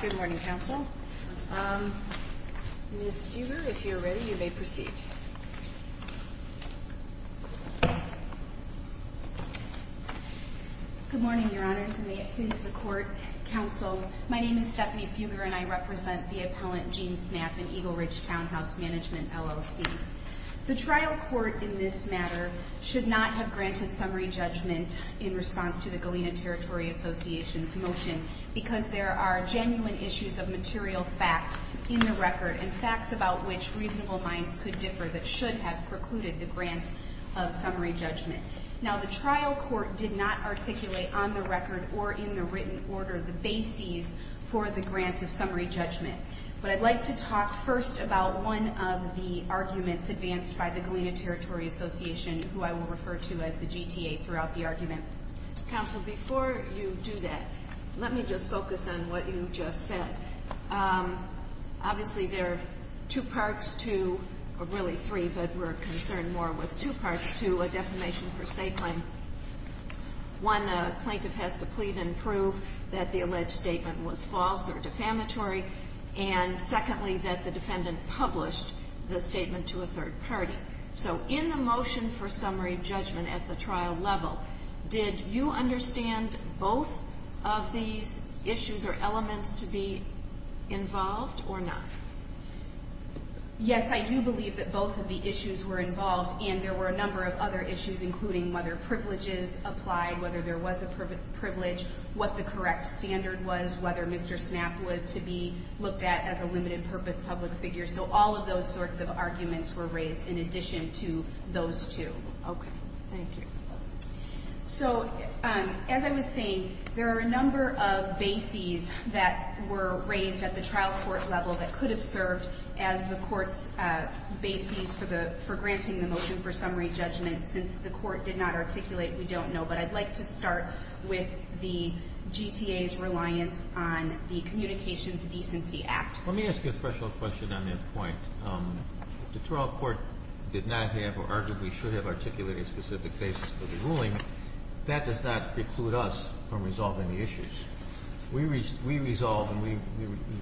Good morning, Council. Ms. Huber, if you're ready, you may proceed. Good morning, Your Honors, and may it please the Court, Council, my name is Stephanie Fugger and I represent the appellant Gene Snapp in Eagle Ridge Townhouse Management, LLC. The trial court in this matter should not have granted summary judgment in response to the Galena Territory Association's motion because there are genuine issues of material fact in the record and facts about which reasonable minds could differ that should have precluded the grant of summary judgment. Now, the trial court did not articulate on the record or in the written order the bases for the grant of summary judgment, but I'd like to talk first about one of the arguments advanced by the Galena Territory Association, who I will refer to as the GTA, throughout the argument. Council, before you do that, let me just focus on what you just said. Obviously, there are two parts to, or really three, but we're concerned more with two parts to a defamation per se claim. One, a plaintiff has to plead and prove that the alleged statement was false or defamatory, and secondly, that the defendant published the statement to a third party. So in the motion for summary judgment at the trial level, did you understand both of these issues or elements to be involved or not? Yes, I do believe that both of the issues were involved, and there were a number of other issues, including whether privileges applied, whether there was a privilege, what the correct standard was, whether Mr. Snapp was to be looked at as a limited purpose public figure. So all of those sorts of arguments were raised in addition to those two. Okay. Thank you. So as I was saying, there are a number of bases that were raised at the trial court level that could have served as the court's bases for the — for granting the motion for summary judgment. Since the court did not articulate, we don't know, but I'd like to start with the GTA's reliance on the Communications Decency Act. Let me ask you a special question on that point. The trial court did not have, or arguably should have, articulated specific bases for the ruling. That does not preclude us from resolving the issues. We resolve and we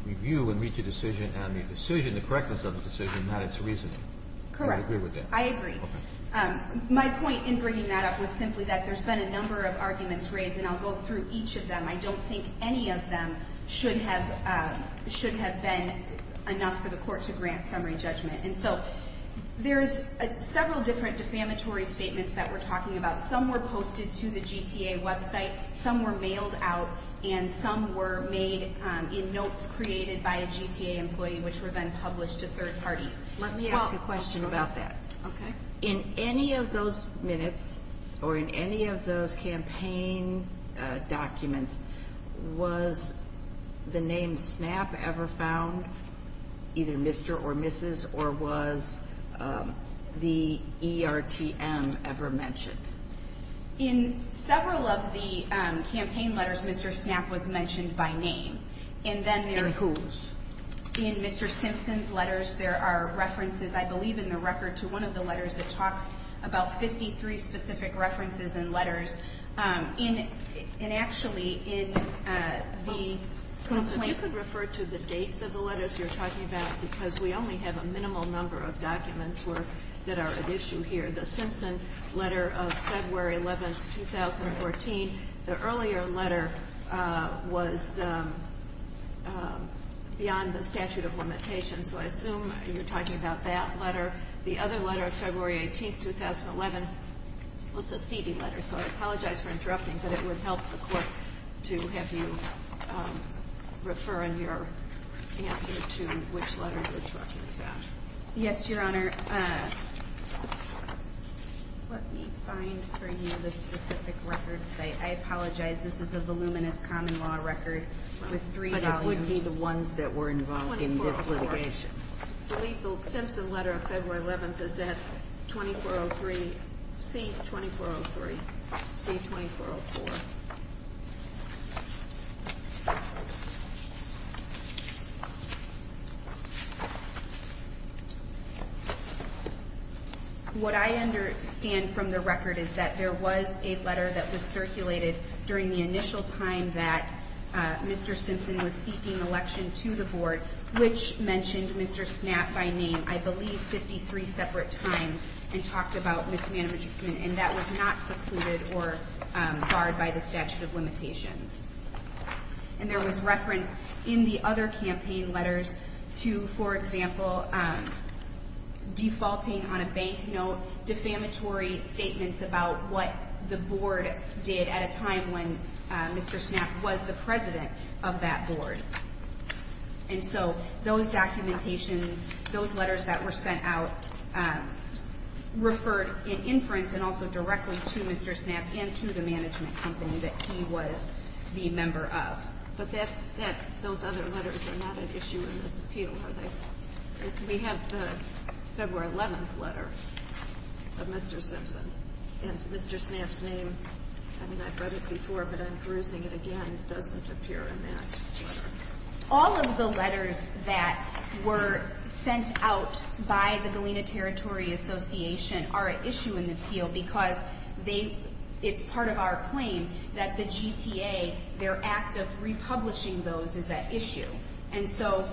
review and reach a decision on the decision, the correctness of the decision, not its reasoning. Do you agree with that? Correct. I agree. Okay. My point in bringing that up was simply that there's been a number of arguments raised, and I'll go through each of them. I don't think any of them should have been enough for the court to grant summary judgment. And so there's several different defamatory statements that we're talking about. Some were posted to the GTA website, some were mailed out, and some were made in notes created by a GTA employee, which were then published to third parties. Let me ask a question about that. Okay. In any of those minutes, or in any of those campaign documents, was the name ever mentioned? In several of the campaign letters, Mr. Snapp was mentioned by name. And then there In whose? In Mr. Simpson's letters, there are references, I believe in the record, to one of the letters that talks about 53 specific references and letters. And actually, in the Counsel, if you could refer to the dates of the letters you're talking about, because we only have a minimal number of documents that are at issue here. The Simpson letter of February 11th, 2014, the earlier letter was beyond the statute of limitations. So I assume you're talking about that letter. The other letter, February 18th, 2011, was the Thieby letter. So I apologize for interrupting, but it would help the Court to have you refer in your answer to which letter you're talking about. Yes, Your Honor. Let me find for you the specific record site. I apologize, this is a voluminous common law record with three volumes. But it would be the ones that were involved in this litigation. I believe the Simpson letter of February 11th is at C-2403, C-2404. What I understand from the record is that there was a letter that was circulated during the initial time that Mr. Simpson was seeking election to the Board, which mentioned Mr. Snapp by name, I believe 53 separate times, and talked about Ms. Madrigan, and that was not precluded or barred by the statute of limitations. And there was reference in the other campaign letters to, for example, defaulting on a bank note, defamatory statements about what the Board did at a time when Mr. Simpson was President of that Board. And so those documentations, those letters that were sent out referred in inference and also directly to Mr. Snapp and to the management company that he was the member of. But those other letters are not an issue in this appeal, are they? We have the February 11th letter of Mr. Simpson, and Mr. Snapp's name, I mean, I've seen them just appear in that letter. All of the letters that were sent out by the Galena Territory Association are an issue in the appeal because it's part of our claim that the GTA, their act of republishing those is at issue. And so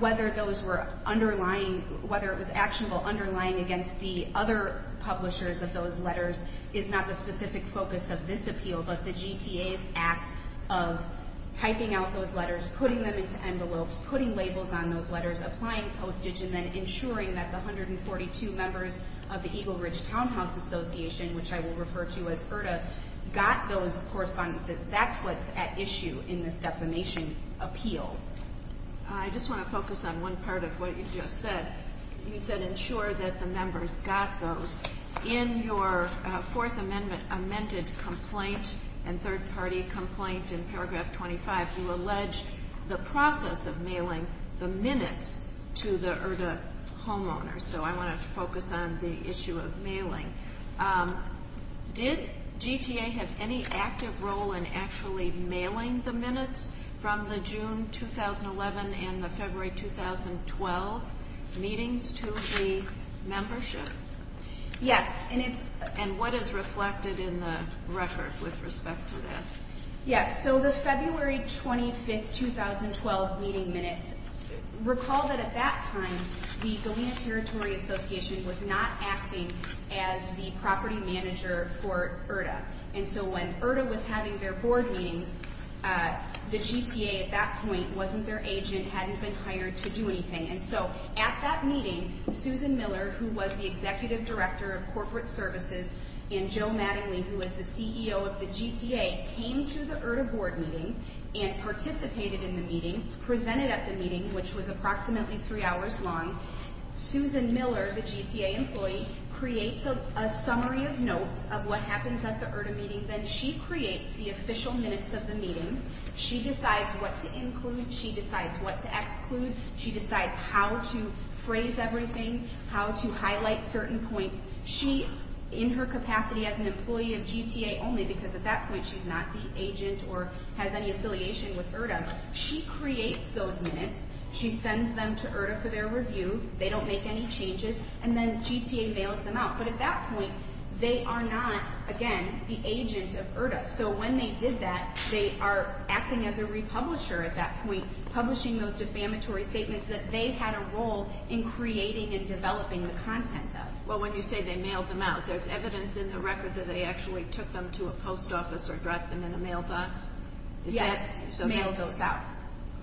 whether those were underlying, whether it was actionable underlying against the other publishers of those letters is not the specific focus of this appeal, but the GTA's act of typing out those letters, putting them into envelopes, putting labels on those letters, applying postage, and then ensuring that the 142 members of the Eagle Ridge Townhouse Association, which I will refer to as IRTA, got those correspondence. That's what's at issue in this defamation appeal. I just want to focus on one part of what you just said. You said ensure that the complaint and third-party complaint in paragraph 25, you allege the process of mailing the minutes to the IRTA homeowners. So I want to focus on the issue of mailing. Did GTA have any active role in actually mailing the minutes from the June 2011 and the February 2012 meetings to the membership? Yes. And what is reflected in the record with respect to that? Yes. So the February 25, 2012 meeting minutes, recall that at that time, the Galena Territory Association was not acting as the property manager for IRTA. And so when IRTA was having their board meetings, the GTA at that point wasn't their agent, hadn't been hired to do anything. And so at that meeting, Susan Miller, who was the Executive Director of Corporate Services, and Joe Mattingly, who was the CEO of the GTA, came to the IRTA board meeting and participated in the meeting, presented at the meeting, which was approximately three hours long. Susan Miller, the GTA employee, creates a summary of notes of what happens at the IRTA meeting. Then she creates the minutes to exclude. She decides how to phrase everything, how to highlight certain points. She, in her capacity as an employee of GTA only, because at that point she's not the agent or has any affiliation with IRTA, she creates those minutes. She sends them to IRTA for their review. They don't make any changes. And then GTA bails them out. But at that point, they are not, again, the agent of IRTA. So when they did that, they are acting as a republisher at that point, publishing those defamatory statements that they had a role in creating and developing the content of. Well, when you say they mailed them out, there's evidence in the record that they actually took them to a post office or dropped them in a mailbox? Yes, mailed those out.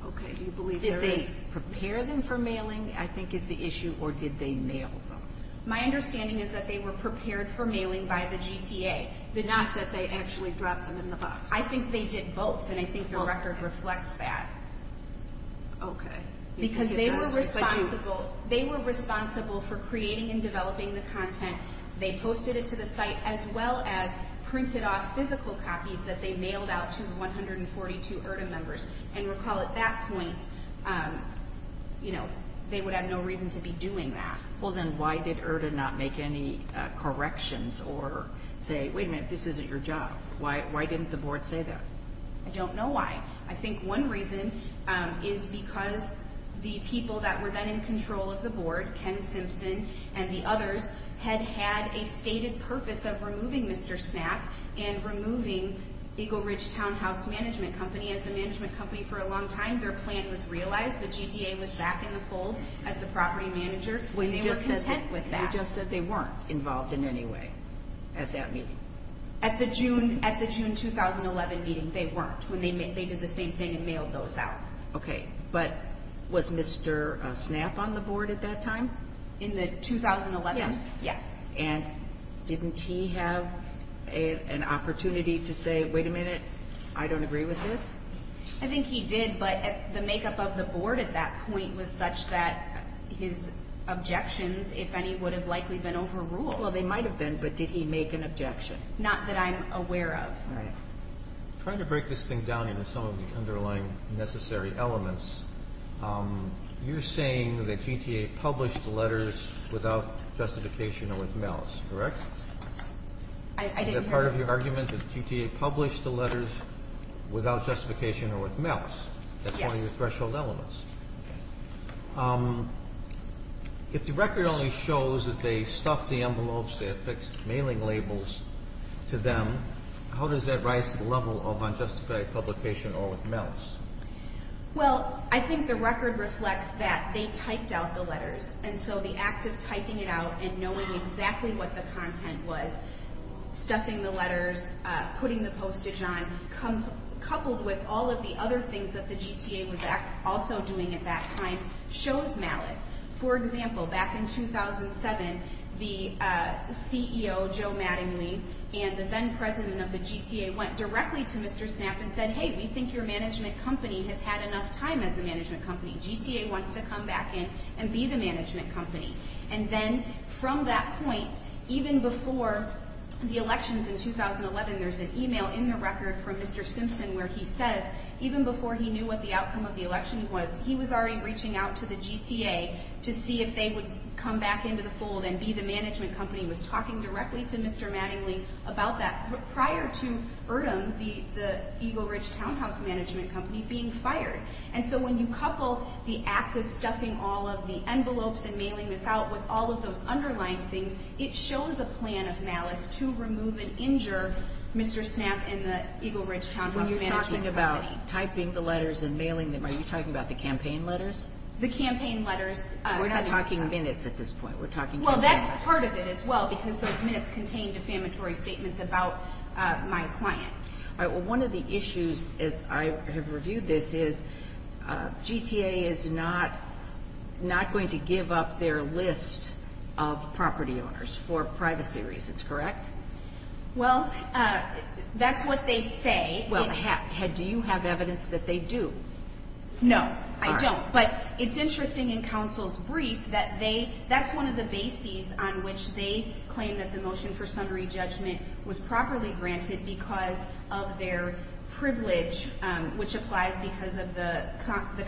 Okay. Do you believe there is? Did they prepare them for mailing, I think is the issue, or did they mail them? My understanding is that they were prepared for mailing by the GTA. Not that they actually dropped them in the box. I think they did both, and I think the record reflects that. Okay. Because they were responsible for creating and developing the content. They posted it to the site, as well as printed off physical copies that they mailed out to the 142 IRTA members. And recall, at that point, they would have no reason to be doing that. Well, then why did IRTA not make any corrections or say, wait a minute, this isn't your job? Why didn't the board say that? I don't know why. I think one reason is because the people that were then in control of the board, Ken Simpson and the others, had had a stated purpose of removing Mr. Snap and removing Eagle Ridge Townhouse Management Company. As the management company for a long time, their plan was realized. The GTA was back in the fold as the property manager, and they were content with that. You just said they weren't involved in any way at that meeting. At the June 2011 meeting, they weren't. They did the same thing and mailed those out. Okay. But was Mr. Snap on the board at that time? In the 2011? Yes. Yes. And didn't he have an opportunity to say, wait a minute, I don't agree with this? I think he did, but the makeup of the board at that point was such that his objections, if any, would have likely been overruled. Well, they might have been, but did he make an objection? Not that I'm aware of. All right. Trying to break this thing down into some of the underlying necessary elements, you're saying that GTA published the letters without justification or with malice, correct? I didn't hear that. Is that part of your argument, that GTA published the letters without justification or with malice? Yes. That's one of your threshold elements. Okay. If the record only shows that they stuffed the envelopes, they affixed mailing labels to them, how does that rise to the level of unjustified publication or with malice? Well, I think the record reflects that they typed out the letters, and so the act of typing it out and knowing exactly what the content was, stuffing the letters, putting the postage on, coupled with all of the other things that the record shows malice. For example, back in 2007, the CEO, Joe Mattingly, and the then president of the GTA went directly to Mr. Snap and said, hey, we think your management company has had enough time as a management company. GTA wants to come back in and be the management company. And then from that point, even before the elections in 2011, there's an email in the record from Mr. Simpson where he says, even before he knew what the to see if they would come back into the fold and be the management company. He was talking directly to Mr. Mattingly about that prior to Erdem, the Eagle Ridge townhouse management company, being fired. And so when you couple the act of stuffing all of the envelopes and mailing this out with all of those underlying things, it shows a plan of malice to remove and injure Mr. Snap and the Eagle Ridge townhouse management company. You're talking about typing the letters and mailing them. Are you talking about the campaign letters? The campaign letters. We're not talking minutes at this point. We're talking campaign letters. Well, that's part of it as well because those minutes contain defamatory statements about my client. All right. Well, one of the issues as I have reviewed this is GTA is not going to give up their list of property owners for privacy reasons, correct? Well, that's what they say. Well, do you have evidence that they do? No, I don't. But it's interesting in counsel's brief that that's one of the bases on which they claim that the motion for summary judgment was properly granted because of their privilege, which applies because of the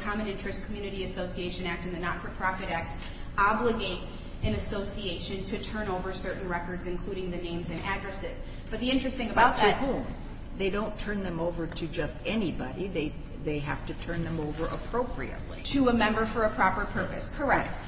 Common Interest Community Association Act and the Not-for-Profit Act obligates an association to turn over certain records, including the names and addresses. But the interesting about that – But to whom? They don't turn them over to just anybody. They have to turn them over appropriately. To a member for a proper purpose. Correct.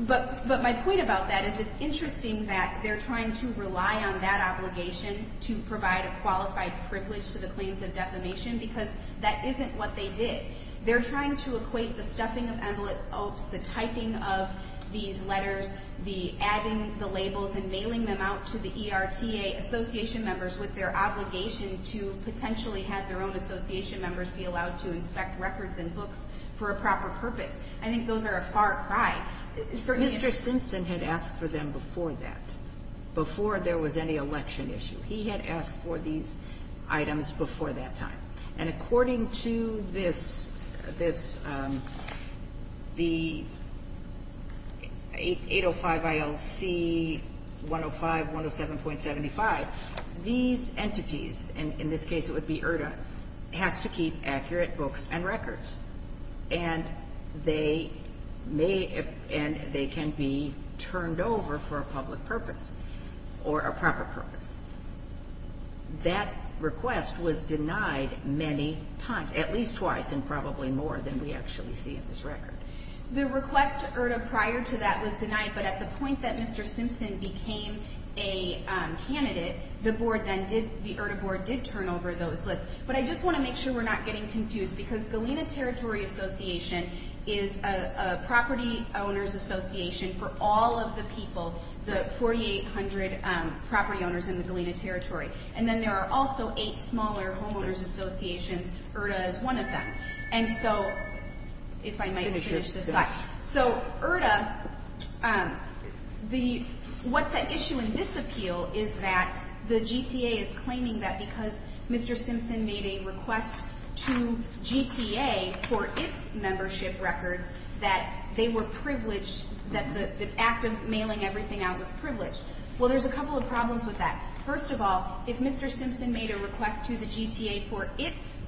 But my point about that is it's interesting that they're trying to rely on that obligation to provide a qualified privilege to the claims of defamation because that isn't what they did. They're trying to equate the stuffing of envelopes, the typing of these letters, the adding the labels and mailing them out to the ERTA association members with their obligation to potentially have their own association members be allowed to inspect records and books for a proper purpose. I think those are a far cry. Mr. Simpson had asked for them before that, before there was any election issue. He had asked for these items before that time. And according to this, the 805 ILC 105, 107.75, these entities, and in this case it would be ERTA, has to keep accurate books and records. And they can be turned over for a public purpose or a proper purpose. That request was denied many times, at least twice and probably more than we actually see in this record. The request to ERTA prior to that was denied, but at the point that Mr. But I just want to make sure we're not getting confused because Galena Territory Association is a property owners association for all of the people, the 4,800 property owners in the Galena Territory. And then there are also eight smaller homeowners associations. ERTA is one of them. And so, if I might finish this slide. So ERTA, what's at issue in this appeal is that the GTA is claiming that because Mr. Simpson made a request to GTA for its membership records that they were privileged, that the act of mailing everything out was privileged. Well, there's a couple of problems with that. First of all, if Mr. Simpson made a request to the GTA for its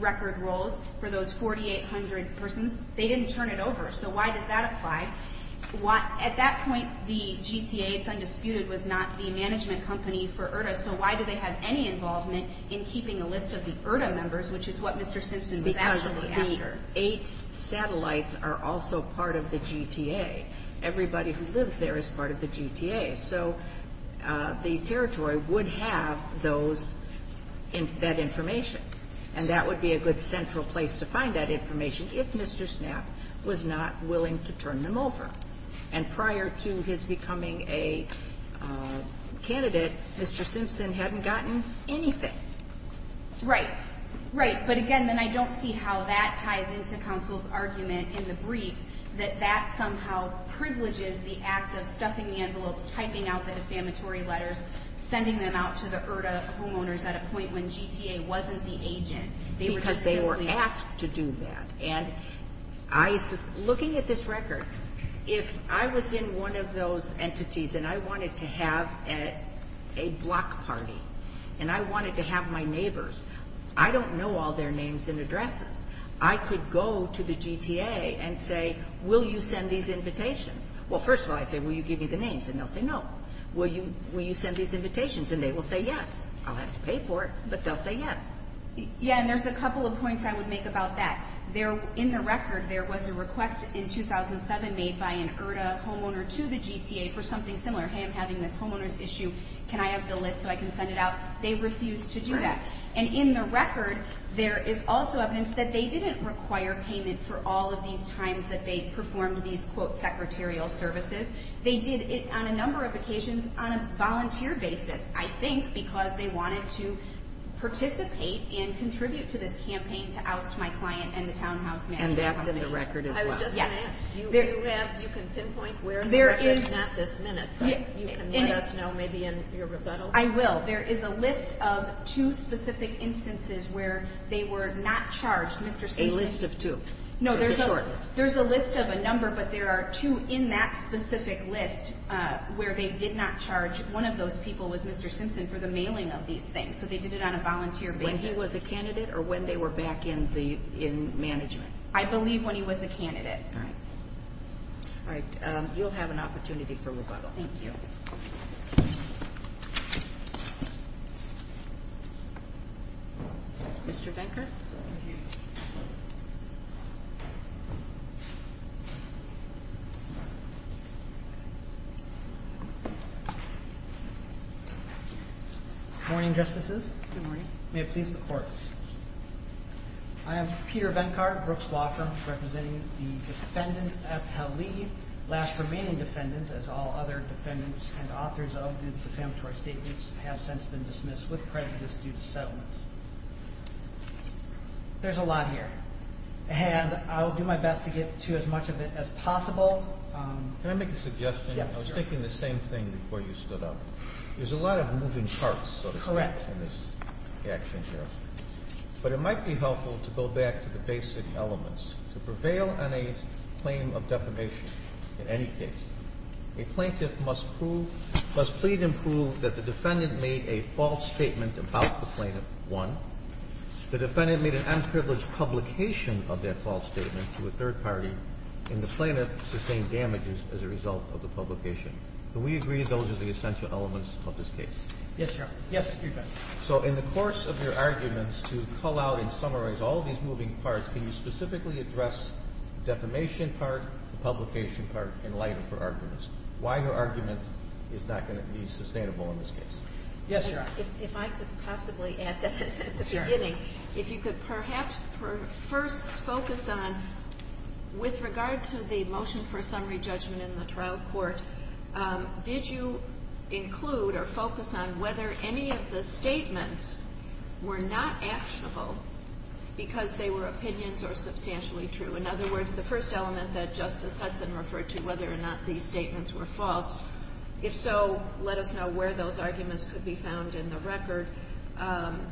record roles for those 4,800 persons, they didn't turn it over. So why does that apply? At that point, the GTA, it's undisputed, was not the management company for in keeping a list of the ERTA members, which is what Mr. Simpson was actually after. Because the eight satellites are also part of the GTA. Everybody who lives there is part of the GTA. So the territory would have that information. And that would be a good central place to find that information if Mr. Snapp was not willing to turn them over. And prior to his becoming a candidate, Mr. Simpson hadn't gotten anything. Right. Right. But again, then I don't see how that ties into counsel's argument in the brief that that somehow privileges the act of stuffing the envelopes, typing out the defamatory letters, sending them out to the ERTA homeowners at a point when GTA wasn't the agent. Because they were asked to do that. And looking at this record, if I was in one of those entities and I wanted to have a block party and I wanted to have my neighbors, I don't know all their names and addresses. I could go to the GTA and say, will you send these invitations? Well, first of all, I say, will you give me the names? And they'll say no. Will you send these invitations? And they will say yes. I'll have to pay for it, but they'll say yes. Yeah, and there's a couple of points I would make about that. In the record, there was a request in 2007 made by an ERTA homeowner to the GTA for something similar. Hey, I'm having this homeowner's issue. Can I have the list so I can send it out? They refused to do that. And in the record, there is also evidence that they didn't require payment for all of these times that they performed these, quote, secretarial services. They did it on a number of occasions on a volunteer basis, I think, because they wanted to participate and contribute to this campaign to oust my client and the townhouse manager. And that's in the record as well? Yes. I was just going to ask, you can pinpoint where in the record, not this minute, but you can let us know maybe in your rebuttal. I will. There is a list of two specific instances where they were not charged. A list of two? No, there's a list of a number, but there are two in that specific list where they did not charge. One of those people was Mr. Simpson for the mailing of these things, so they did it on a volunteer basis. When he was a candidate or when they were back in management? I believe when he was a candidate. All right. You'll have an opportunity for rebuttal. Thank you. Thank you. Mr. Benkert? Thank you. Good morning, Justices. Good morning. May it please the Court. I am Peter Benkert, Brooks Law Firm, representing the defendant, F. Hallie, last remaining defendant, as all other defendants and authors of the defamatory statements have since been dismissed with prejudice due to settlement. There's a lot here, and I will do my best to get to as much of it as possible. Can I make a suggestion? Yes, sure. I was thinking the same thing before you stood up. There's a lot of moving parts, so to speak, in this action here. Correct. But it might be helpful to go back to the basic elements. To prevail on a claim of defamation in any case, a plaintiff must plead and prove that the defendant made a false statement about the plaintiff, one, the defendant made an unprivileged publication of that false statement to a third party, and the plaintiff sustained damages as a result of the publication. Do we agree those are the essential elements of this case? Yes, Your Honor. Yes, Your Honor. So in the course of your arguments to call out and summarize all of these moving parts, can you specifically address the defamation part, the publication part in light of her arguments? Why her argument is not going to be sustainable in this case? Yes, Your Honor. If I could possibly add to this at the beginning, if you could perhaps first focus on, with regard to the motion for summary judgment in the trial court, did you include or focus on whether any of the statements were not actionable because they were opinions or substantially true? In other words, the first element that Justice Hudson referred to, whether or not these statements were false. If so, let us know where those arguments could be found in the record.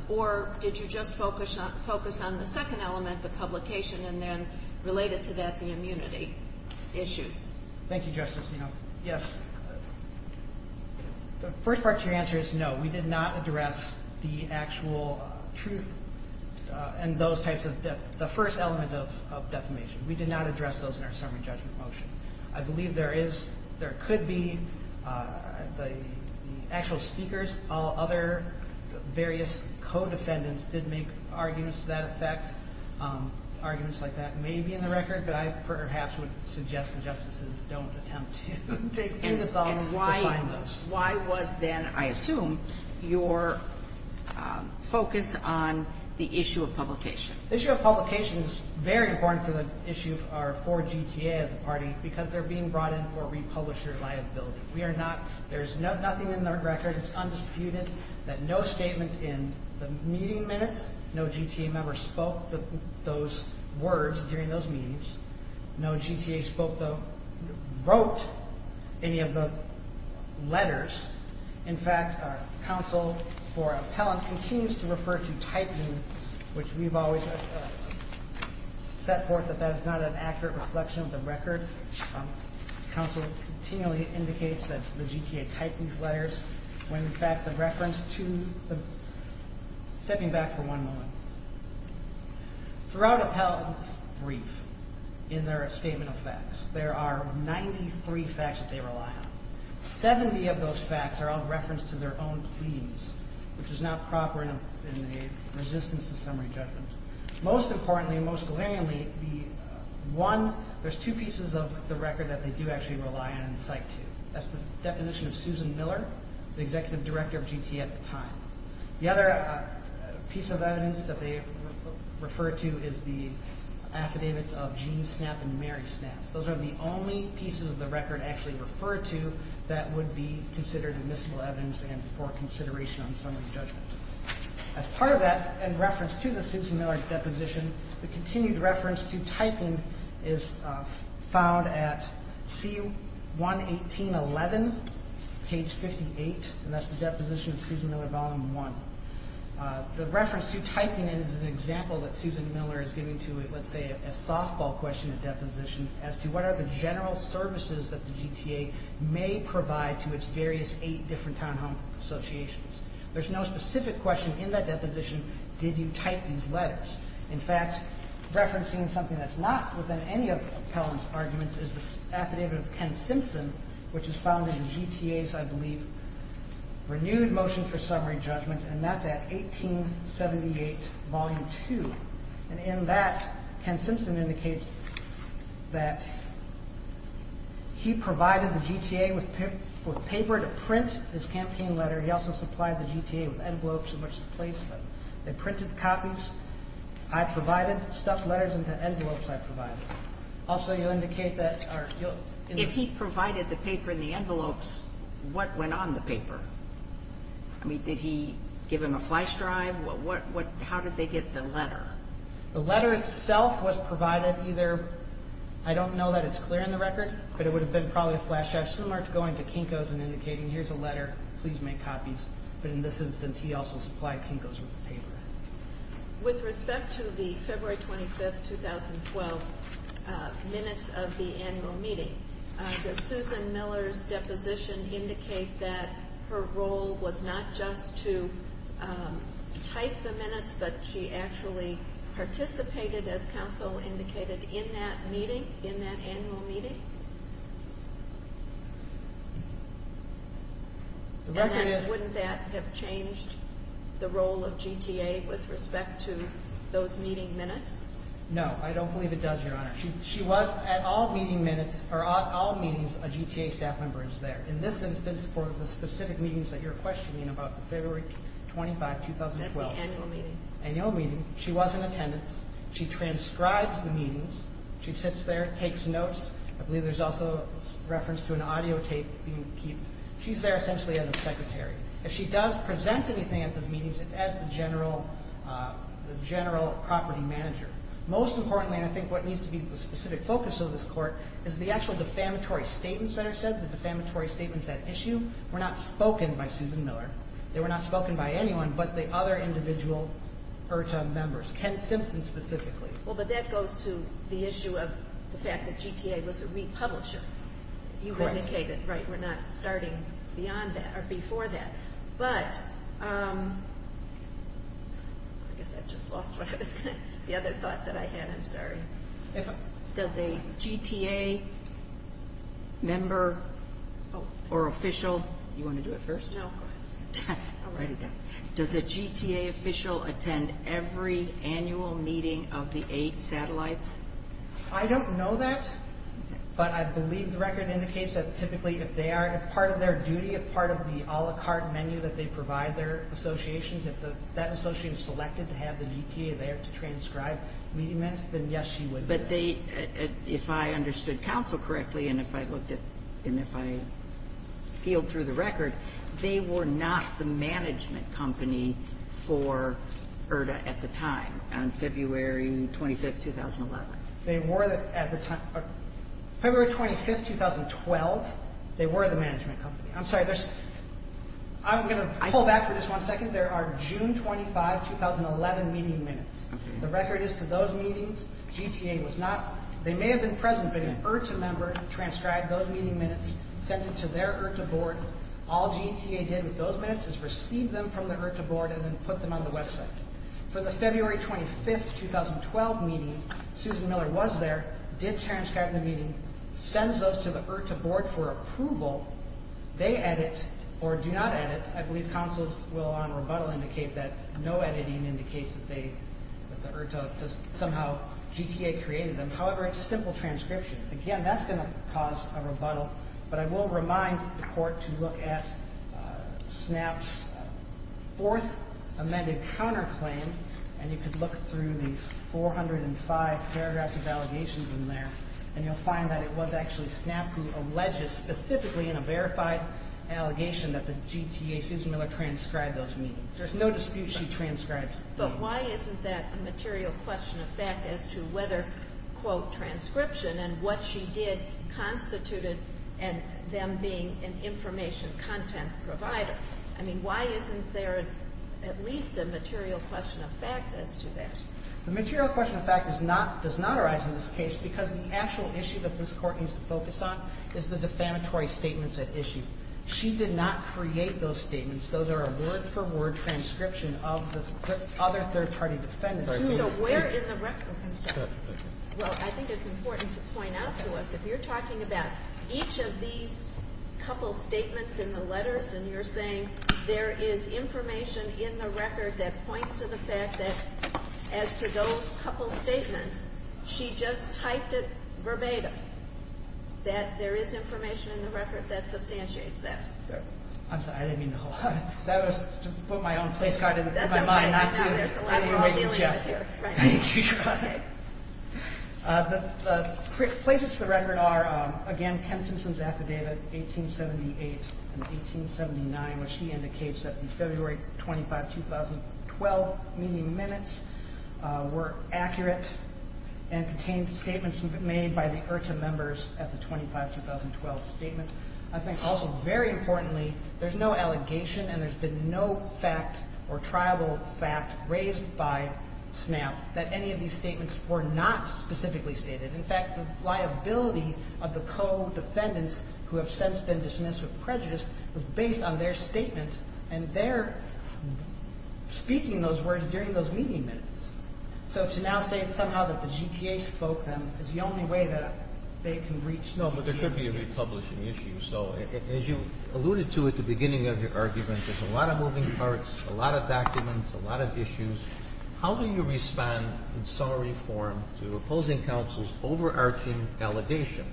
Or did you just focus on the second element, the publication, and then related to that, the immunity issues? Thank you, Justice. You know, yes. The first part of your answer is no. We did not address the actual truth and those types of, the first element of defamation. We did not address those in our summary judgment motion. I believe there is, there could be the actual speakers, all other various co-defendants did make arguments to that effect. Arguments like that may be in the record, but I perhaps would suggest that justices don't attempt to take to the phone to find those. And why, why was then, I assume, your focus on the issue of publication? The issue of publication is very important for the issue of our, for GTA as a party because they're being brought in for republisher liability. We are not, there is nothing in the record, it's undisputed, that no statement in the meeting minutes, no GTA member spoke those words during those meetings. No GTA spoke, wrote any of the letters. In fact, our counsel for appellant continues to refer to typing, which we've always set forth that that is not an accurate reflection of the record. Counsel continually indicates that the GTA typed these letters, when in fact the reference to the, stepping back for one moment. Throughout appellant's brief, in their statement of facts, there are 93 facts that they rely on. 70 of those facts are all referenced to their own pleas, which is not proper in the resistance to summary judgment. Most importantly, and most glaringly, the one, there's two pieces of the record that they do actually rely on and cite to. That's the definition of Susan Miller, the executive director of GTA at the time. The other piece of evidence that they refer to is the affidavits of Gene Snapp and Mary Snapp. Those are the only pieces of the record actually referred to, that would be considered admissible evidence and for consideration on summary judgment. As part of that, in reference to the Susan Miller deposition, the continued reference to typing is found at C-118-11, page 58, and that's the deposition of Susan Miller, volume one. The reference to typing is an example that Susan Miller is giving to, let's say, a softball question, a deposition as to what are the general services that the GTA may provide to its various eight different townhome associations. There's no specific question in that deposition, did you type these letters. In fact, referencing something that's not within any of the appellant's arguments is the affidavit of Ken Simpson, which is found in the GTA's, I believe, renewed motion for summary judgment, and that's at 1878, volume two. And in that, Ken Simpson indicates that he provided the GTA with paper to print his campaign letter. He also supplied the GTA with envelopes in which to place them. They printed copies. I provided stuffed letters into envelopes I provided. Also, you'll indicate that. If he provided the paper in the envelopes, what went on the paper? I mean, did he give them a flash drive? How did they get the letter? The letter itself was provided either, I don't know that it's clear in the record, but it would have been probably a flash drive, similar to going to Kinko's and indicating, here's a letter, please make copies. But in this instance, he also supplied Kinko's with paper. With respect to the February 25th, 2012 minutes of the annual meeting, does Susan Miller's deposition indicate that her role was not just to type the minutes, but she actually participated, as counsel indicated, in that meeting, in that annual meeting? The record is... And wouldn't that have changed the role of GTA with respect to those meeting minutes? No, I don't believe it does, Your Honor. She was at all meeting minutes, or at all meetings, a GTA staff member is there. In this instance, for the specific meetings that you're questioning, about February 25th, 2012... That's the annual meeting. Annual meeting. She was in attendance. She transcribes the meetings. She sits there, takes notes. I believe there's also a reference to an audio tape being kept. She's there essentially as a secretary. If she does present anything at the meetings, it's as the general property manager. Most importantly, and I think what needs to be the specific focus of this Court, is the actual defamatory statements that are said, the defamatory statements at issue, were not spoken by Susan Miller. They were not spoken by anyone but the other individual URTA members, Ken Simpson specifically. Well, but that goes to the issue of the fact that GTA was a republisher. You indicated, right, we're not starting beyond that, or before that. But, I guess I just lost what I was going to... The other thought that I had, I'm sorry. Does a GTA member or official... You want to do it first? No, go ahead. I'll write it down. Does a GTA official attend every annual meeting of the eight satellites? I don't know that, but I believe the record indicates that typically if they are, if part of their duty, if part of the a la carte menu that they provide their associations, if that association is selected to have the GTA there to transcribe meeting minutes, then yes, she would. But they, if I understood counsel correctly, and if I looked at, and if I feel through the record, they were not the management company for IRTA at the time, on February 25, 2011. They were at the time. February 25, 2012, they were the management company. I'm sorry, I'm going to pull back for just one second. There are June 25, 2011 meeting minutes. The record is to those meetings, GTA was not, they may have been present, but an IRTA member transcribed those meeting minutes, sent it to their IRTA board, all GTA did with those minutes is receive them from the IRTA board and then put them on the website. For the February 25, 2012 meeting, Susan Miller was there, did transcribe the meeting, sends those to the IRTA board for approval, they edit, or do not edit, I believe counsels will on rebuttal indicate that no editing indicates that they, that the IRTA does somehow, GTA created them. However, it's a simple transcription. Again, that's going to cause a rebuttal, but I will remind the court to look at SNAP's fourth amended counterclaim, and you can look through the 405 paragraphs of allegations in there, and you'll find that it was actually SNAP who alleges, specifically in a verified allegation, that the GTA, Susan Miller transcribed those meetings. There's no dispute she transcribed those meetings. quote, And what she did constituted them being an information content provider. I mean, why isn't there at least a material question of fact as to that? The material question of fact is not, does not arise in this case because the actual issue that this Court needs to focus on is the defamatory statements at issue. She did not create those statements. Those are a word-for-word transcription of the other third-party defenders. So where in the record comes that? Well, I think it's important to point out to us, if you're talking about each of these couple statements in the letters, and you're saying there is information in the record that points to the fact that as to those couple statements, she just typed it verbatim, that there is information in the record that substantiates that. I'm sorry. I didn't mean the whole thing. That was to put my own place card in my mind, I didn't mean to suggest. The places to the record are, again, Ken Simpson's affidavit, 1878 and 1879, which he indicates that the February 25, 2012 meeting minutes were accurate and contained statements made by the IRTA members at the 25-2012 statement. I think also, very importantly, there's no allegation and there's been no fact or tribal fact raised by SNAP that any of these statements were not specifically stated. In fact, the liability of the co-defendants, who have since been dismissed with prejudice, was based on their statements, and their speaking those words during those meeting minutes. So to now say somehow that the GTA spoke them is the only way that they can reach these issues. No, but there could be a republishing issue. So as you alluded to at the beginning of your argument, there's a lot of moving parts, a lot of documents, a lot of issues. How do you respond in summary form to opposing counsel's overarching allegation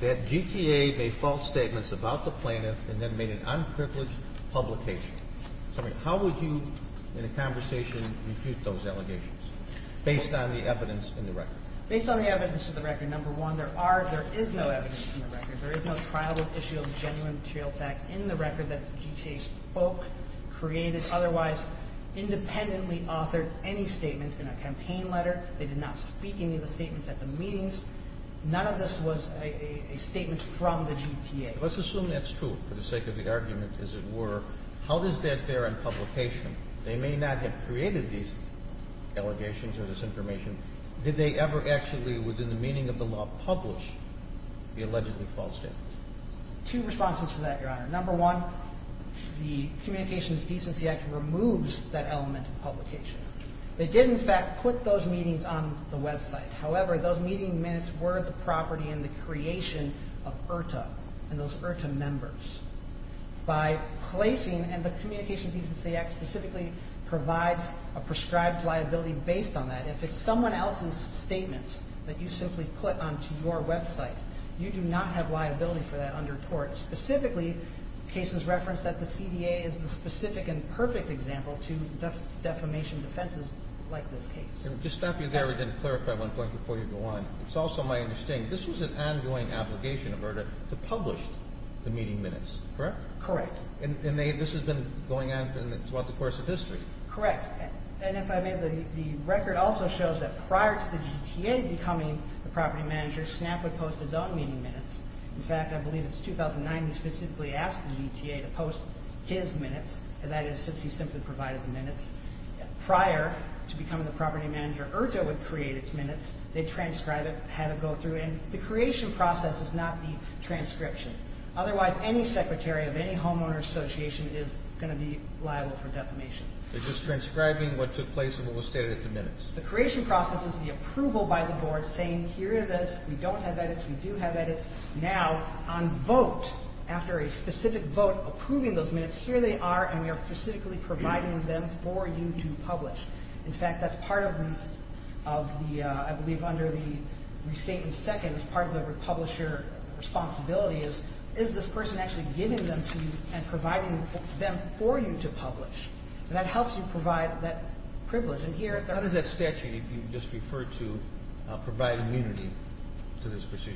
that GTA made false statements about the plaintiff and then made an unprivileged publication? How would you, in a conversation, refute those allegations, based on the evidence in the record? Based on the evidence in the record, number one, there are, there is no evidence in the record. There is no trial of issue of genuine material fact in the record that the GTA spoke, created, otherwise independently authored any statement in a campaign letter. They did not speak any of the statements at the meetings. None of this was a statement from the GTA. Let's assume that's true for the sake of the argument, as it were. How does that bear in publication? They may not have created these allegations or this information. Did they ever actually, within the meaning of the law, publish the allegedly false statements? Two responses to that, Your Honor. Number one, the Communications Decency Act removes that element of publication. They did, in fact, put those meetings on the website. However, those meeting minutes were the property and the creation of IRTA and those IRTA members. By placing, and the Communications Decency Act specifically provides a prescribed liability based on that. If it's someone else's statements that you simply put onto your website, you do not have liability for that under tort. Specifically, cases reference that the CDA is the specific and perfect example to defamation defenses like this case. Just stopping there, we didn't clarify one point before you go on. It's also my understanding this was an ongoing obligation of IRTA to publish the meeting minutes, correct? Correct. And this has been going on throughout the course of history. Correct. And if I may, the record also shows that prior to the GTA becoming the property manager, SNAP would post his own meeting minutes. In fact, I believe it's 2009 he specifically asked the GTA to post his minutes, and that is since he simply provided the minutes. Prior to becoming the property manager, IRTA would create its minutes. They'd transcribe it, have it go through, and the creation process is not the transcription. Otherwise, any secretary of any homeowner association is going to be liable for defamation. They're just transcribing what took place and what was stated in the minutes. The creation process is the approval by the board saying, here it is, we don't have edits, we do have edits. Now, on vote, after a specific vote approving those minutes, here they are and we are specifically providing them for you to publish. In fact, that's part of the, I believe under the restatement second, it's part of the publisher responsibility is, And that helps you provide that privilege. And here, How does that statute you just referred to provide immunity to this procedure?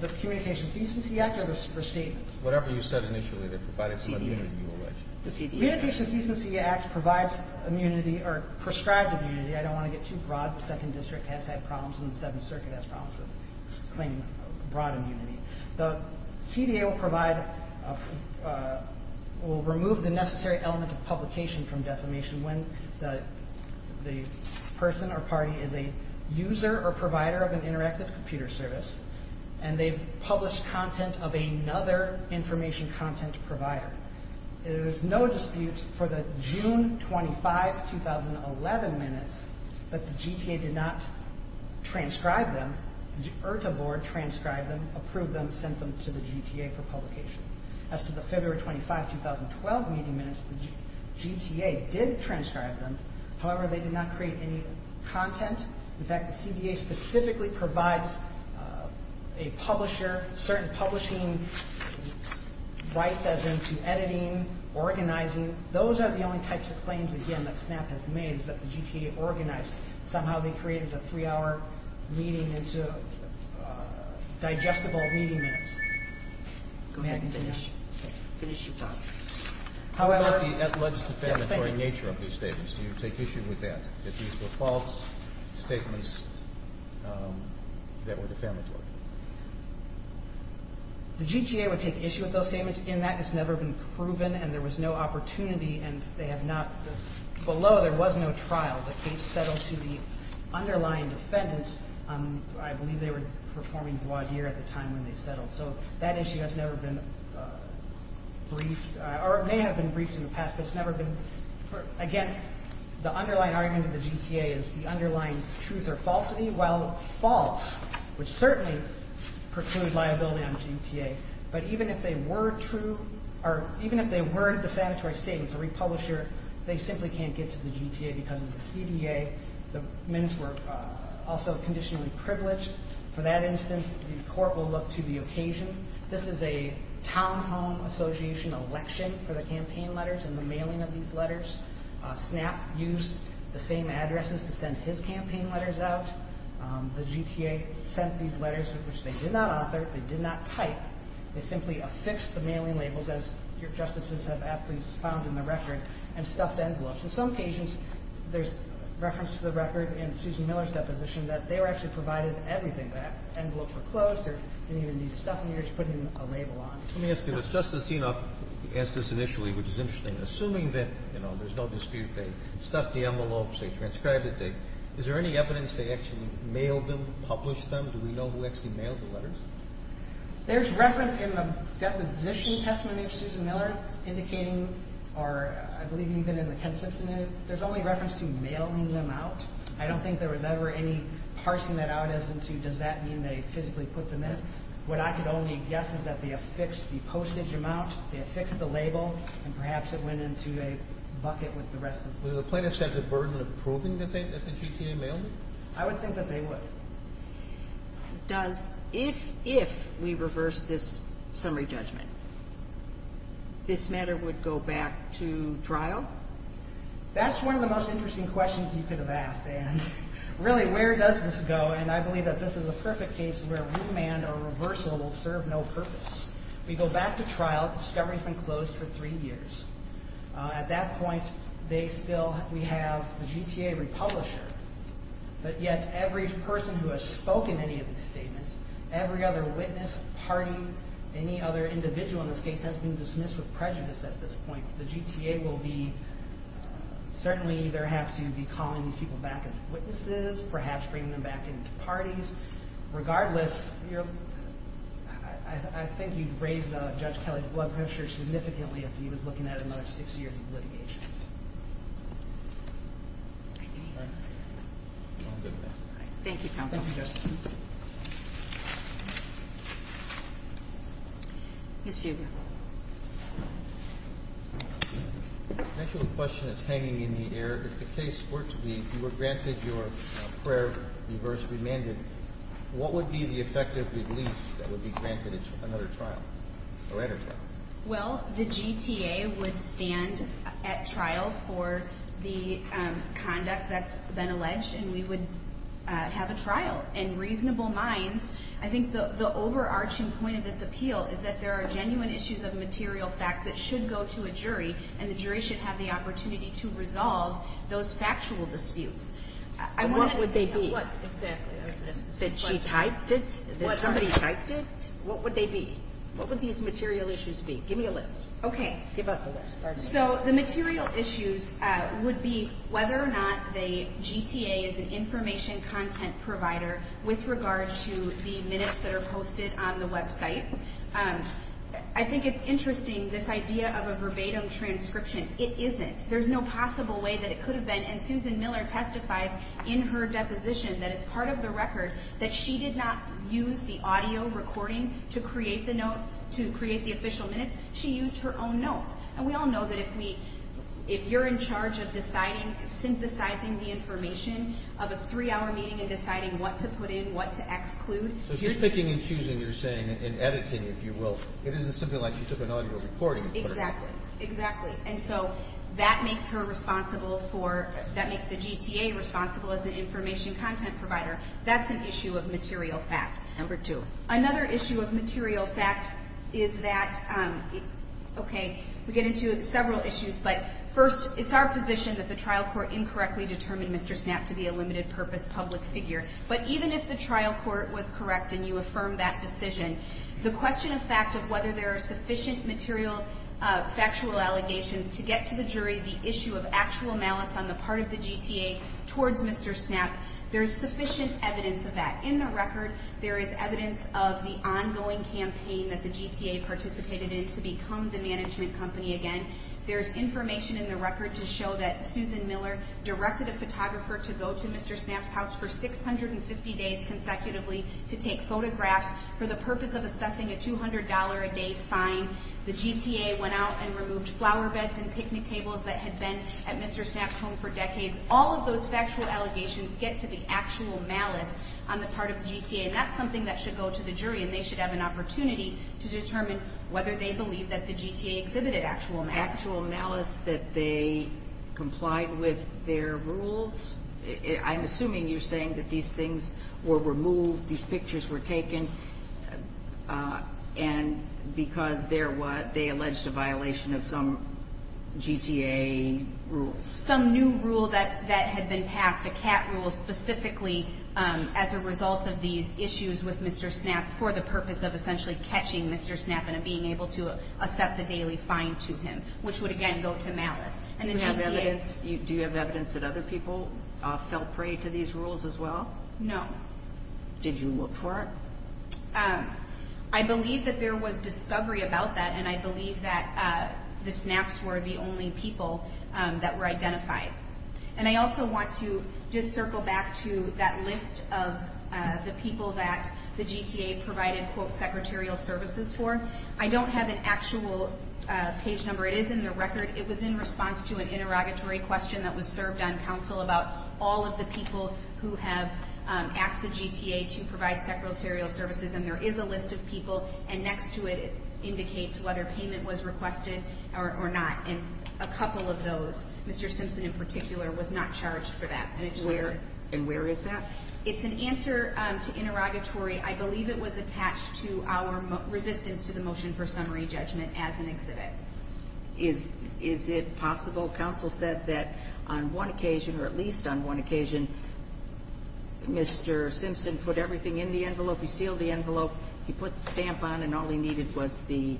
The Communications Decency Act or the restatement? Whatever you said initially that provided some immunity, you allege. The CDA. The Communications Decency Act provides immunity or prescribes immunity. I don't want to get too broad. The Second District has had problems and the Seventh Circuit has problems with claiming broad immunity. The CDA will remove the necessary element of publication from defamation when the person or party is a user or provider of an interactive computer service and they've published content of another information content provider. There is no dispute for the June 25, 2011 minutes, but the GTA did not transcribe them. The IRTA Board transcribed them, approved them, sent them to the GTA for publication. As to the February 25, 2012 meeting minutes, the GTA did transcribe them. However, they did not create any content. In fact, the CDA specifically provides a publisher, certain publishing rights, as in to editing, organizing. Those are the only types of claims, again, that SNAP has made, that the GTA organized. Somehow they created a three-hour meeting into digestible meeting minutes. May I finish? Finish your talk. How about the defamatory nature of these statements? Do you take issue with that, that these were false statements that were defamatory? The GTA would take issue with those statements in that it's never been proven and there was no opportunity and below there was no trial. The case settled to the underlying defendants. I believe they were performing voir dire at the time when they settled. So that issue has never been briefed or may have been briefed in the past, but it's never been. Again, the underlying argument of the GTA is the underlying truth or falsity, while false, which certainly precludes liability on the GTA. But even if they were true or even if they were defamatory statements, a republisher, they simply can't get to the GTA because of the CDA. The men were also conditionally privileged. For that instance, the court will look to the occasion. This is a townhome association election for the campaign letters and the mailing of these letters. SNAP used the same addresses to send his campaign letters out. The GTA sent these letters, which they did not author. They did not type. They simply affixed the mailing labels, as Your Justices have aptly found in the record, and stuffed envelopes. In some cases, there's reference to the record in Susan Miller's deposition that they were actually provided everything. The envelopes were closed. They didn't even need to stuff them. They were just putting a label on. Let me ask you this. Justice Enoff asked this initially, which is interesting. Assuming that, you know, there's no dispute they stuffed the envelopes, they transcribed it, is there any evidence they actually mailed them, published them? Do we know who actually mailed the letters? There's reference in the deposition testament of Susan Miller indicating, or I believe even in the Kent Substantive, there's only reference to mailing them out. I don't think there was ever any parsing that out as to does that mean they physically put them in. What I could only guess is that they affixed the postage amount, they affixed the label, and perhaps it went into a bucket with the rest of them. Would the plaintiffs have the burden of proving that the GTA mailed them? I would think that they would. Does, if, if we reverse this summary judgment, this matter would go back to trial? That's one of the most interesting questions you could have asked. And really, where does this go? And I believe that this is a perfect case where remand or reversal will serve no purpose. We go back to trial. Discovery has been closed for three years. At that point, they still, we have the GTA republisher, but yet every person who has spoken any of these statements, every other witness, party, any other individual in this case has been dismissed with prejudice at this point. The GTA will be, certainly either have to be calling these people back as witnesses, perhaps bringing them back into parties. Regardless, I think you'd raise Judge Kelly's blood pressure significantly if he was looking at another six years of litigation. Thank you, Counsel. Thank you, Justice. Ms. Fugate. I have a question that's hanging in the air. If the case were to be, if you were granted your prayer, reverse remanded, what would be the effective release that would be granted in another trial or entertainment? Well, the GTA would stand at trial for the conduct that's been alleged, and we would have a trial. In reasonable minds, I think the overarching point of this appeal is that there are genuine issues of material fact that should go to a jury, and the jury should have the opportunity to resolve those factual disputes. What would they be? Exactly. She typed it? Somebody typed it? What would they be? What would these material issues be? Give me a list. Okay. Give us a list. So the material issues would be whether or not the GTA is an information content provider with regard to the minutes that are posted on the website. I think it's interesting, this idea of a verbatim transcription. It isn't. There's no possible way that it could have been, and Susan Miller testifies in her deposition that is part of the record that she did not use the audio recording to create the notes, to create the official minutes. She used her own notes. And we all know that if you're in charge of deciding, synthesizing the information of a three-hour meeting and deciding what to put in, what to exclude. So if you're picking and choosing, you're saying, and editing, if you will, it isn't something like she took an audio recording. Exactly. Exactly. And so that makes her responsible for, that makes the GTA responsible as the information content provider. That's an issue of material fact. Number two. Another issue of material fact is that, okay, we get into several issues, but first it's our position that the trial court incorrectly determined Mr. Snapp to be a limited purpose public figure. But even if the trial court was correct and you affirmed that decision, the question of fact of whether there are sufficient material factual allegations to get to the jury the issue of actual malice on the part of the GTA towards Mr. Snapp, there's sufficient evidence of that. In the record there is evidence of the ongoing campaign that the GTA participated in to become the management company again. There's information in the record to show that Susan Miller directed a photographer to go to Mr. Snapp's house for 650 days consecutively to take photographs for the purpose of assessing a $200 a day fine. The GTA went out and removed flower beds and picnic tables that had been at Mr. Snapp's home for decades. All of those factual allegations get to the actual malice on the part of the GTA, and that's something that should go to the jury, and they should have an opportunity to determine whether they believe that the GTA exhibited actual malice. Actual malice that they complied with their rules. I'm assuming you're saying that these things were removed, these pictures were taken, and because they alleged a violation of some GTA rules. Some new rule that had been passed, a cat rule, specifically as a result of these issues with Mr. Snapp for the purpose of essentially catching Mr. Snapp and being able to assess a daily fine to him, which would again go to malice. Do you have evidence that other people fell prey to these rules as well? No. Did you look for it? I believe that there was discovery about that, and I believe that the Snapps were the only people that were identified. And I also want to just circle back to that list of the people that the GTA provided, quote, secretarial services for. I don't have an actual page number. It is in the record. It was in response to an interrogatory question that was served on council about all of the people who have asked the GTA to provide secretarial services, and there is a list of people, and next to it indicates whether payment was requested or not. And a couple of those, Mr. Simpson in particular, was not charged for that. And it's where? And where is that? It's an answer to interrogatory. I believe it was attached to our resistance to the motion for summary judgment as an exhibit. Is it possible? Council said that on one occasion, or at least on one occasion, Mr. Simpson put everything in the envelope. He sealed the envelope. He put the stamp on, and all he needed was the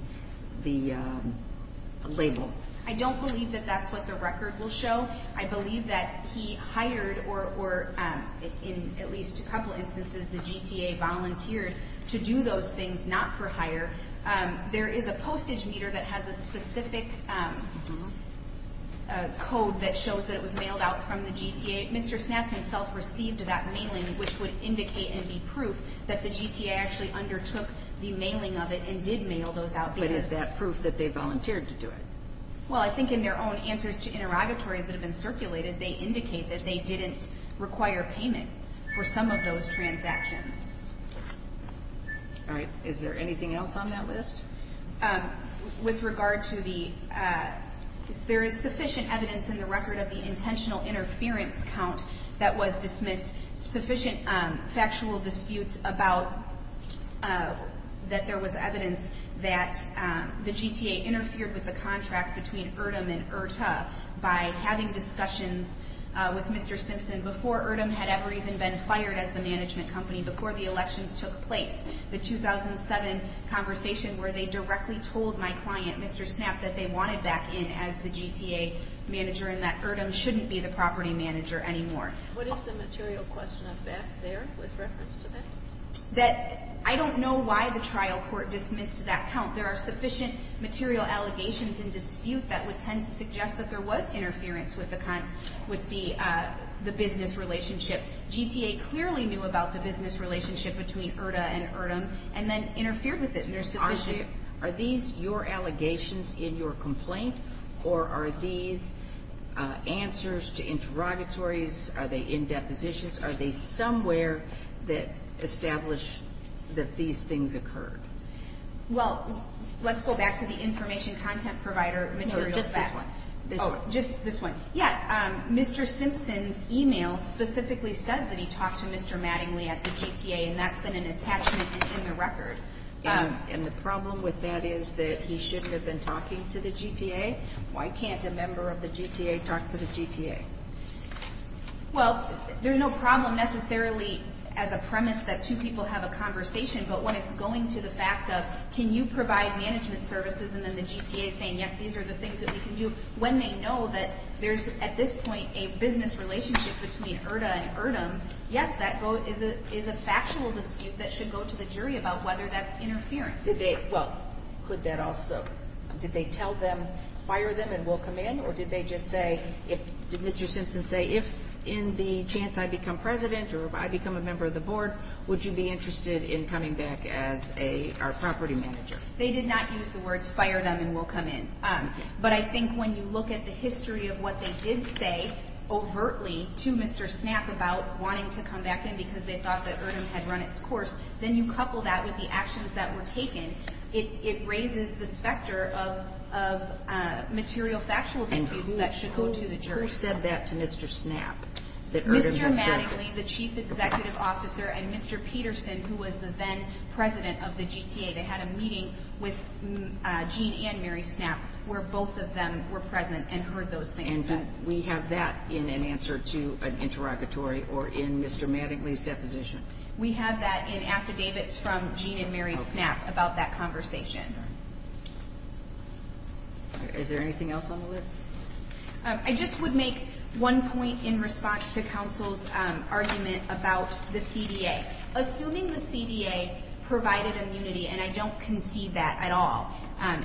label. I don't believe that that's what the record will show. I believe that he hired or, in at least a couple instances, the GTA volunteered to do those things, not for hire. There is a postage meter that has a specific code that shows that it was mailed out from the GTA. Mr. Snap himself received that mailing, which would indicate and be proof that the GTA actually undertook the mailing of it and did mail those out. But is that proof that they volunteered to do it? Well, I think in their own answers to interrogatories that have been circulated, they indicate that they didn't require payment for some of those transactions. All right. Is there anything else on that list? With regard to the ‑‑ there is sufficient evidence in the record of the intentional interference count that was dismissed, sufficient factual disputes about that there was evidence that the GTA interfered with the contract between URDM and URTA by having discussions with Mr. Simpson before URDM had ever even been fired as the management company, before the elections took place. The 2007 conversation where they directly told my client, Mr. Snap, that they wanted back in as the GTA manager and that URDM shouldn't be the property manager anymore. What is the material question of back there with reference to that? I don't know why the trial court dismissed that count. There are sufficient material allegations and dispute that would tend to suggest that there was interference with the business relationship. GTA clearly knew about the business relationship between URDA and URDM and then interfered with it. Are these your allegations in your complaint or are these answers to interrogatories? Are they in depositions? Are they somewhere that established that these things occurred? Well, let's go back to the information content provider material fact. No, just this one. Oh, just this one. Yeah. Mr. Simpson's email specifically says that he talked to Mr. Mattingly at the GTA and that's been an attachment in the record. And the problem with that is that he shouldn't have been talking to the GTA? Why can't a member of the GTA talk to the GTA? Well, there's no problem necessarily as a premise that two people have a conversation, but when it's going to the fact of can you provide management services and then the GTA saying, yes, these are the things that we can do. When they know that there's at this point a business relationship between URDA and URDM, yes, that is a factual dispute that should go to the jury about whether that's interference. Well, could that also, did they tell them fire them and we'll come in or did they just say, did Mr. Simpson say if in the chance I become president or if I become a member of the board, would you be interested in coming back as our property manager? They did not use the words fire them and we'll come in. But I think when you look at the history of what they did say overtly to Mr. Snap about wanting to come back in because they thought that URDM had run its course, then you couple that with the actions that were taken, it raises this factor of material factual disputes that should go to the jury. And who said that to Mr. Snap? Mr. Mattingly, the chief executive officer, and Mr. Peterson, who was the then president of the GTA, they had a meeting with Gene and Mary Snap where both of them were present and heard those things said. And we have that in an answer to an interrogatory or in Mr. Mattingly's deposition. We have that in affidavits from Gene and Mary Snap about that conversation. Is there anything else on the list? I just would make one point in response to counsel's argument about the CDA. Assuming the CDA provided immunity, and I don't concede that at all.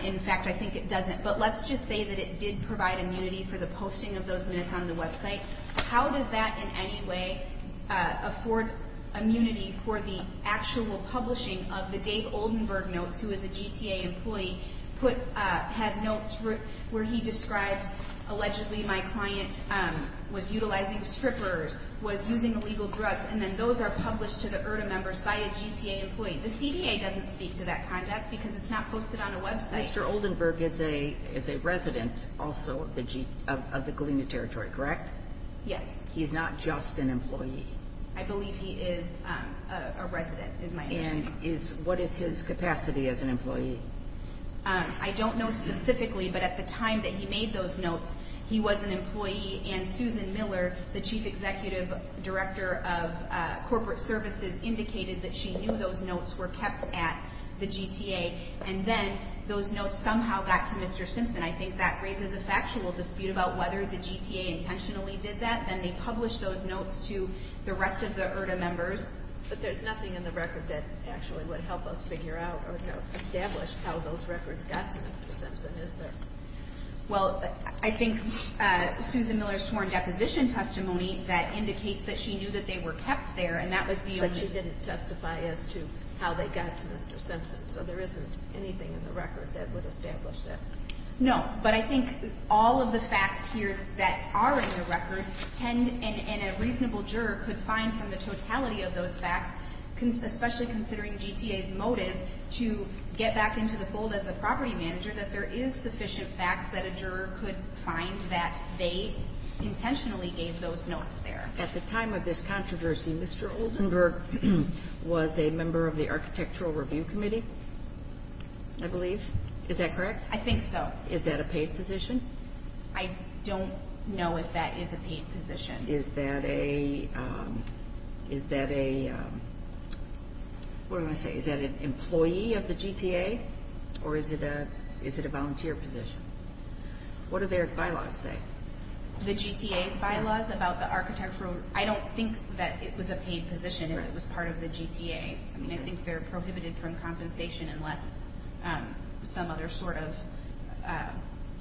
In fact, I think it doesn't. But let's just say that it did provide immunity for the posting of those minutes on the website. How does that in any way afford immunity for the actual publishing of the Dave Oldenburg notes, who is a GTA employee, had notes where he describes allegedly my client was utilizing strippers, was using illegal drugs, and then those are published to the URDM members by a GTA employee. The CDA doesn't speak to that conduct because it's not posted on a website. Mr. Oldenburg is a resident also of the Galena Territory, correct? Yes. He's not just an employee. I believe he is a resident, is my understanding. And what is his capacity as an employee? I don't know specifically, but at the time that he made those notes, he was an employee. And Susan Miller, the Chief Executive Director of Corporate Services, indicated that she knew those notes were kept at the GTA. And then those notes somehow got to Mr. Simpson. I think that raises a factual dispute about whether the GTA intentionally did that. Then they published those notes to the rest of the URDM members. But there's nothing in the record that actually would help us figure out or establish how those records got to Mr. Simpson, is there? Well, I think Susan Miller's sworn deposition testimony that indicates that she knew that they were kept there, and that was the only— But she didn't testify as to how they got to Mr. Simpson, so there isn't anything in the record that would establish that. No, but I think all of the facts here that are in the record and a reasonable juror could find from the totality of those facts, especially considering GTA's motive to get back into the fold as a property manager, that there is sufficient facts that a juror could find that they intentionally gave those notes there. At the time of this controversy, Mr. Oldenburg was a member of the Architectural Review Committee, I believe. Is that correct? I think so. Is that a paid position? I don't know if that is a paid position. Is that a—what am I going to say? Is that an employee of the GTA, or is it a volunteer position? What do their bylaws say? The GTA's bylaws about the architectural— I don't think that it was a paid position and it was part of the GTA. I mean, I think they're prohibited from compensation unless some other sort of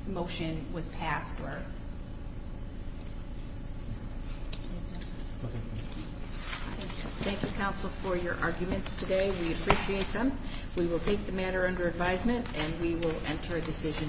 motion was passed or— Thank you, counsel, for your arguments today. We appreciate them. We will take the matter under advisement and we will enter a decision.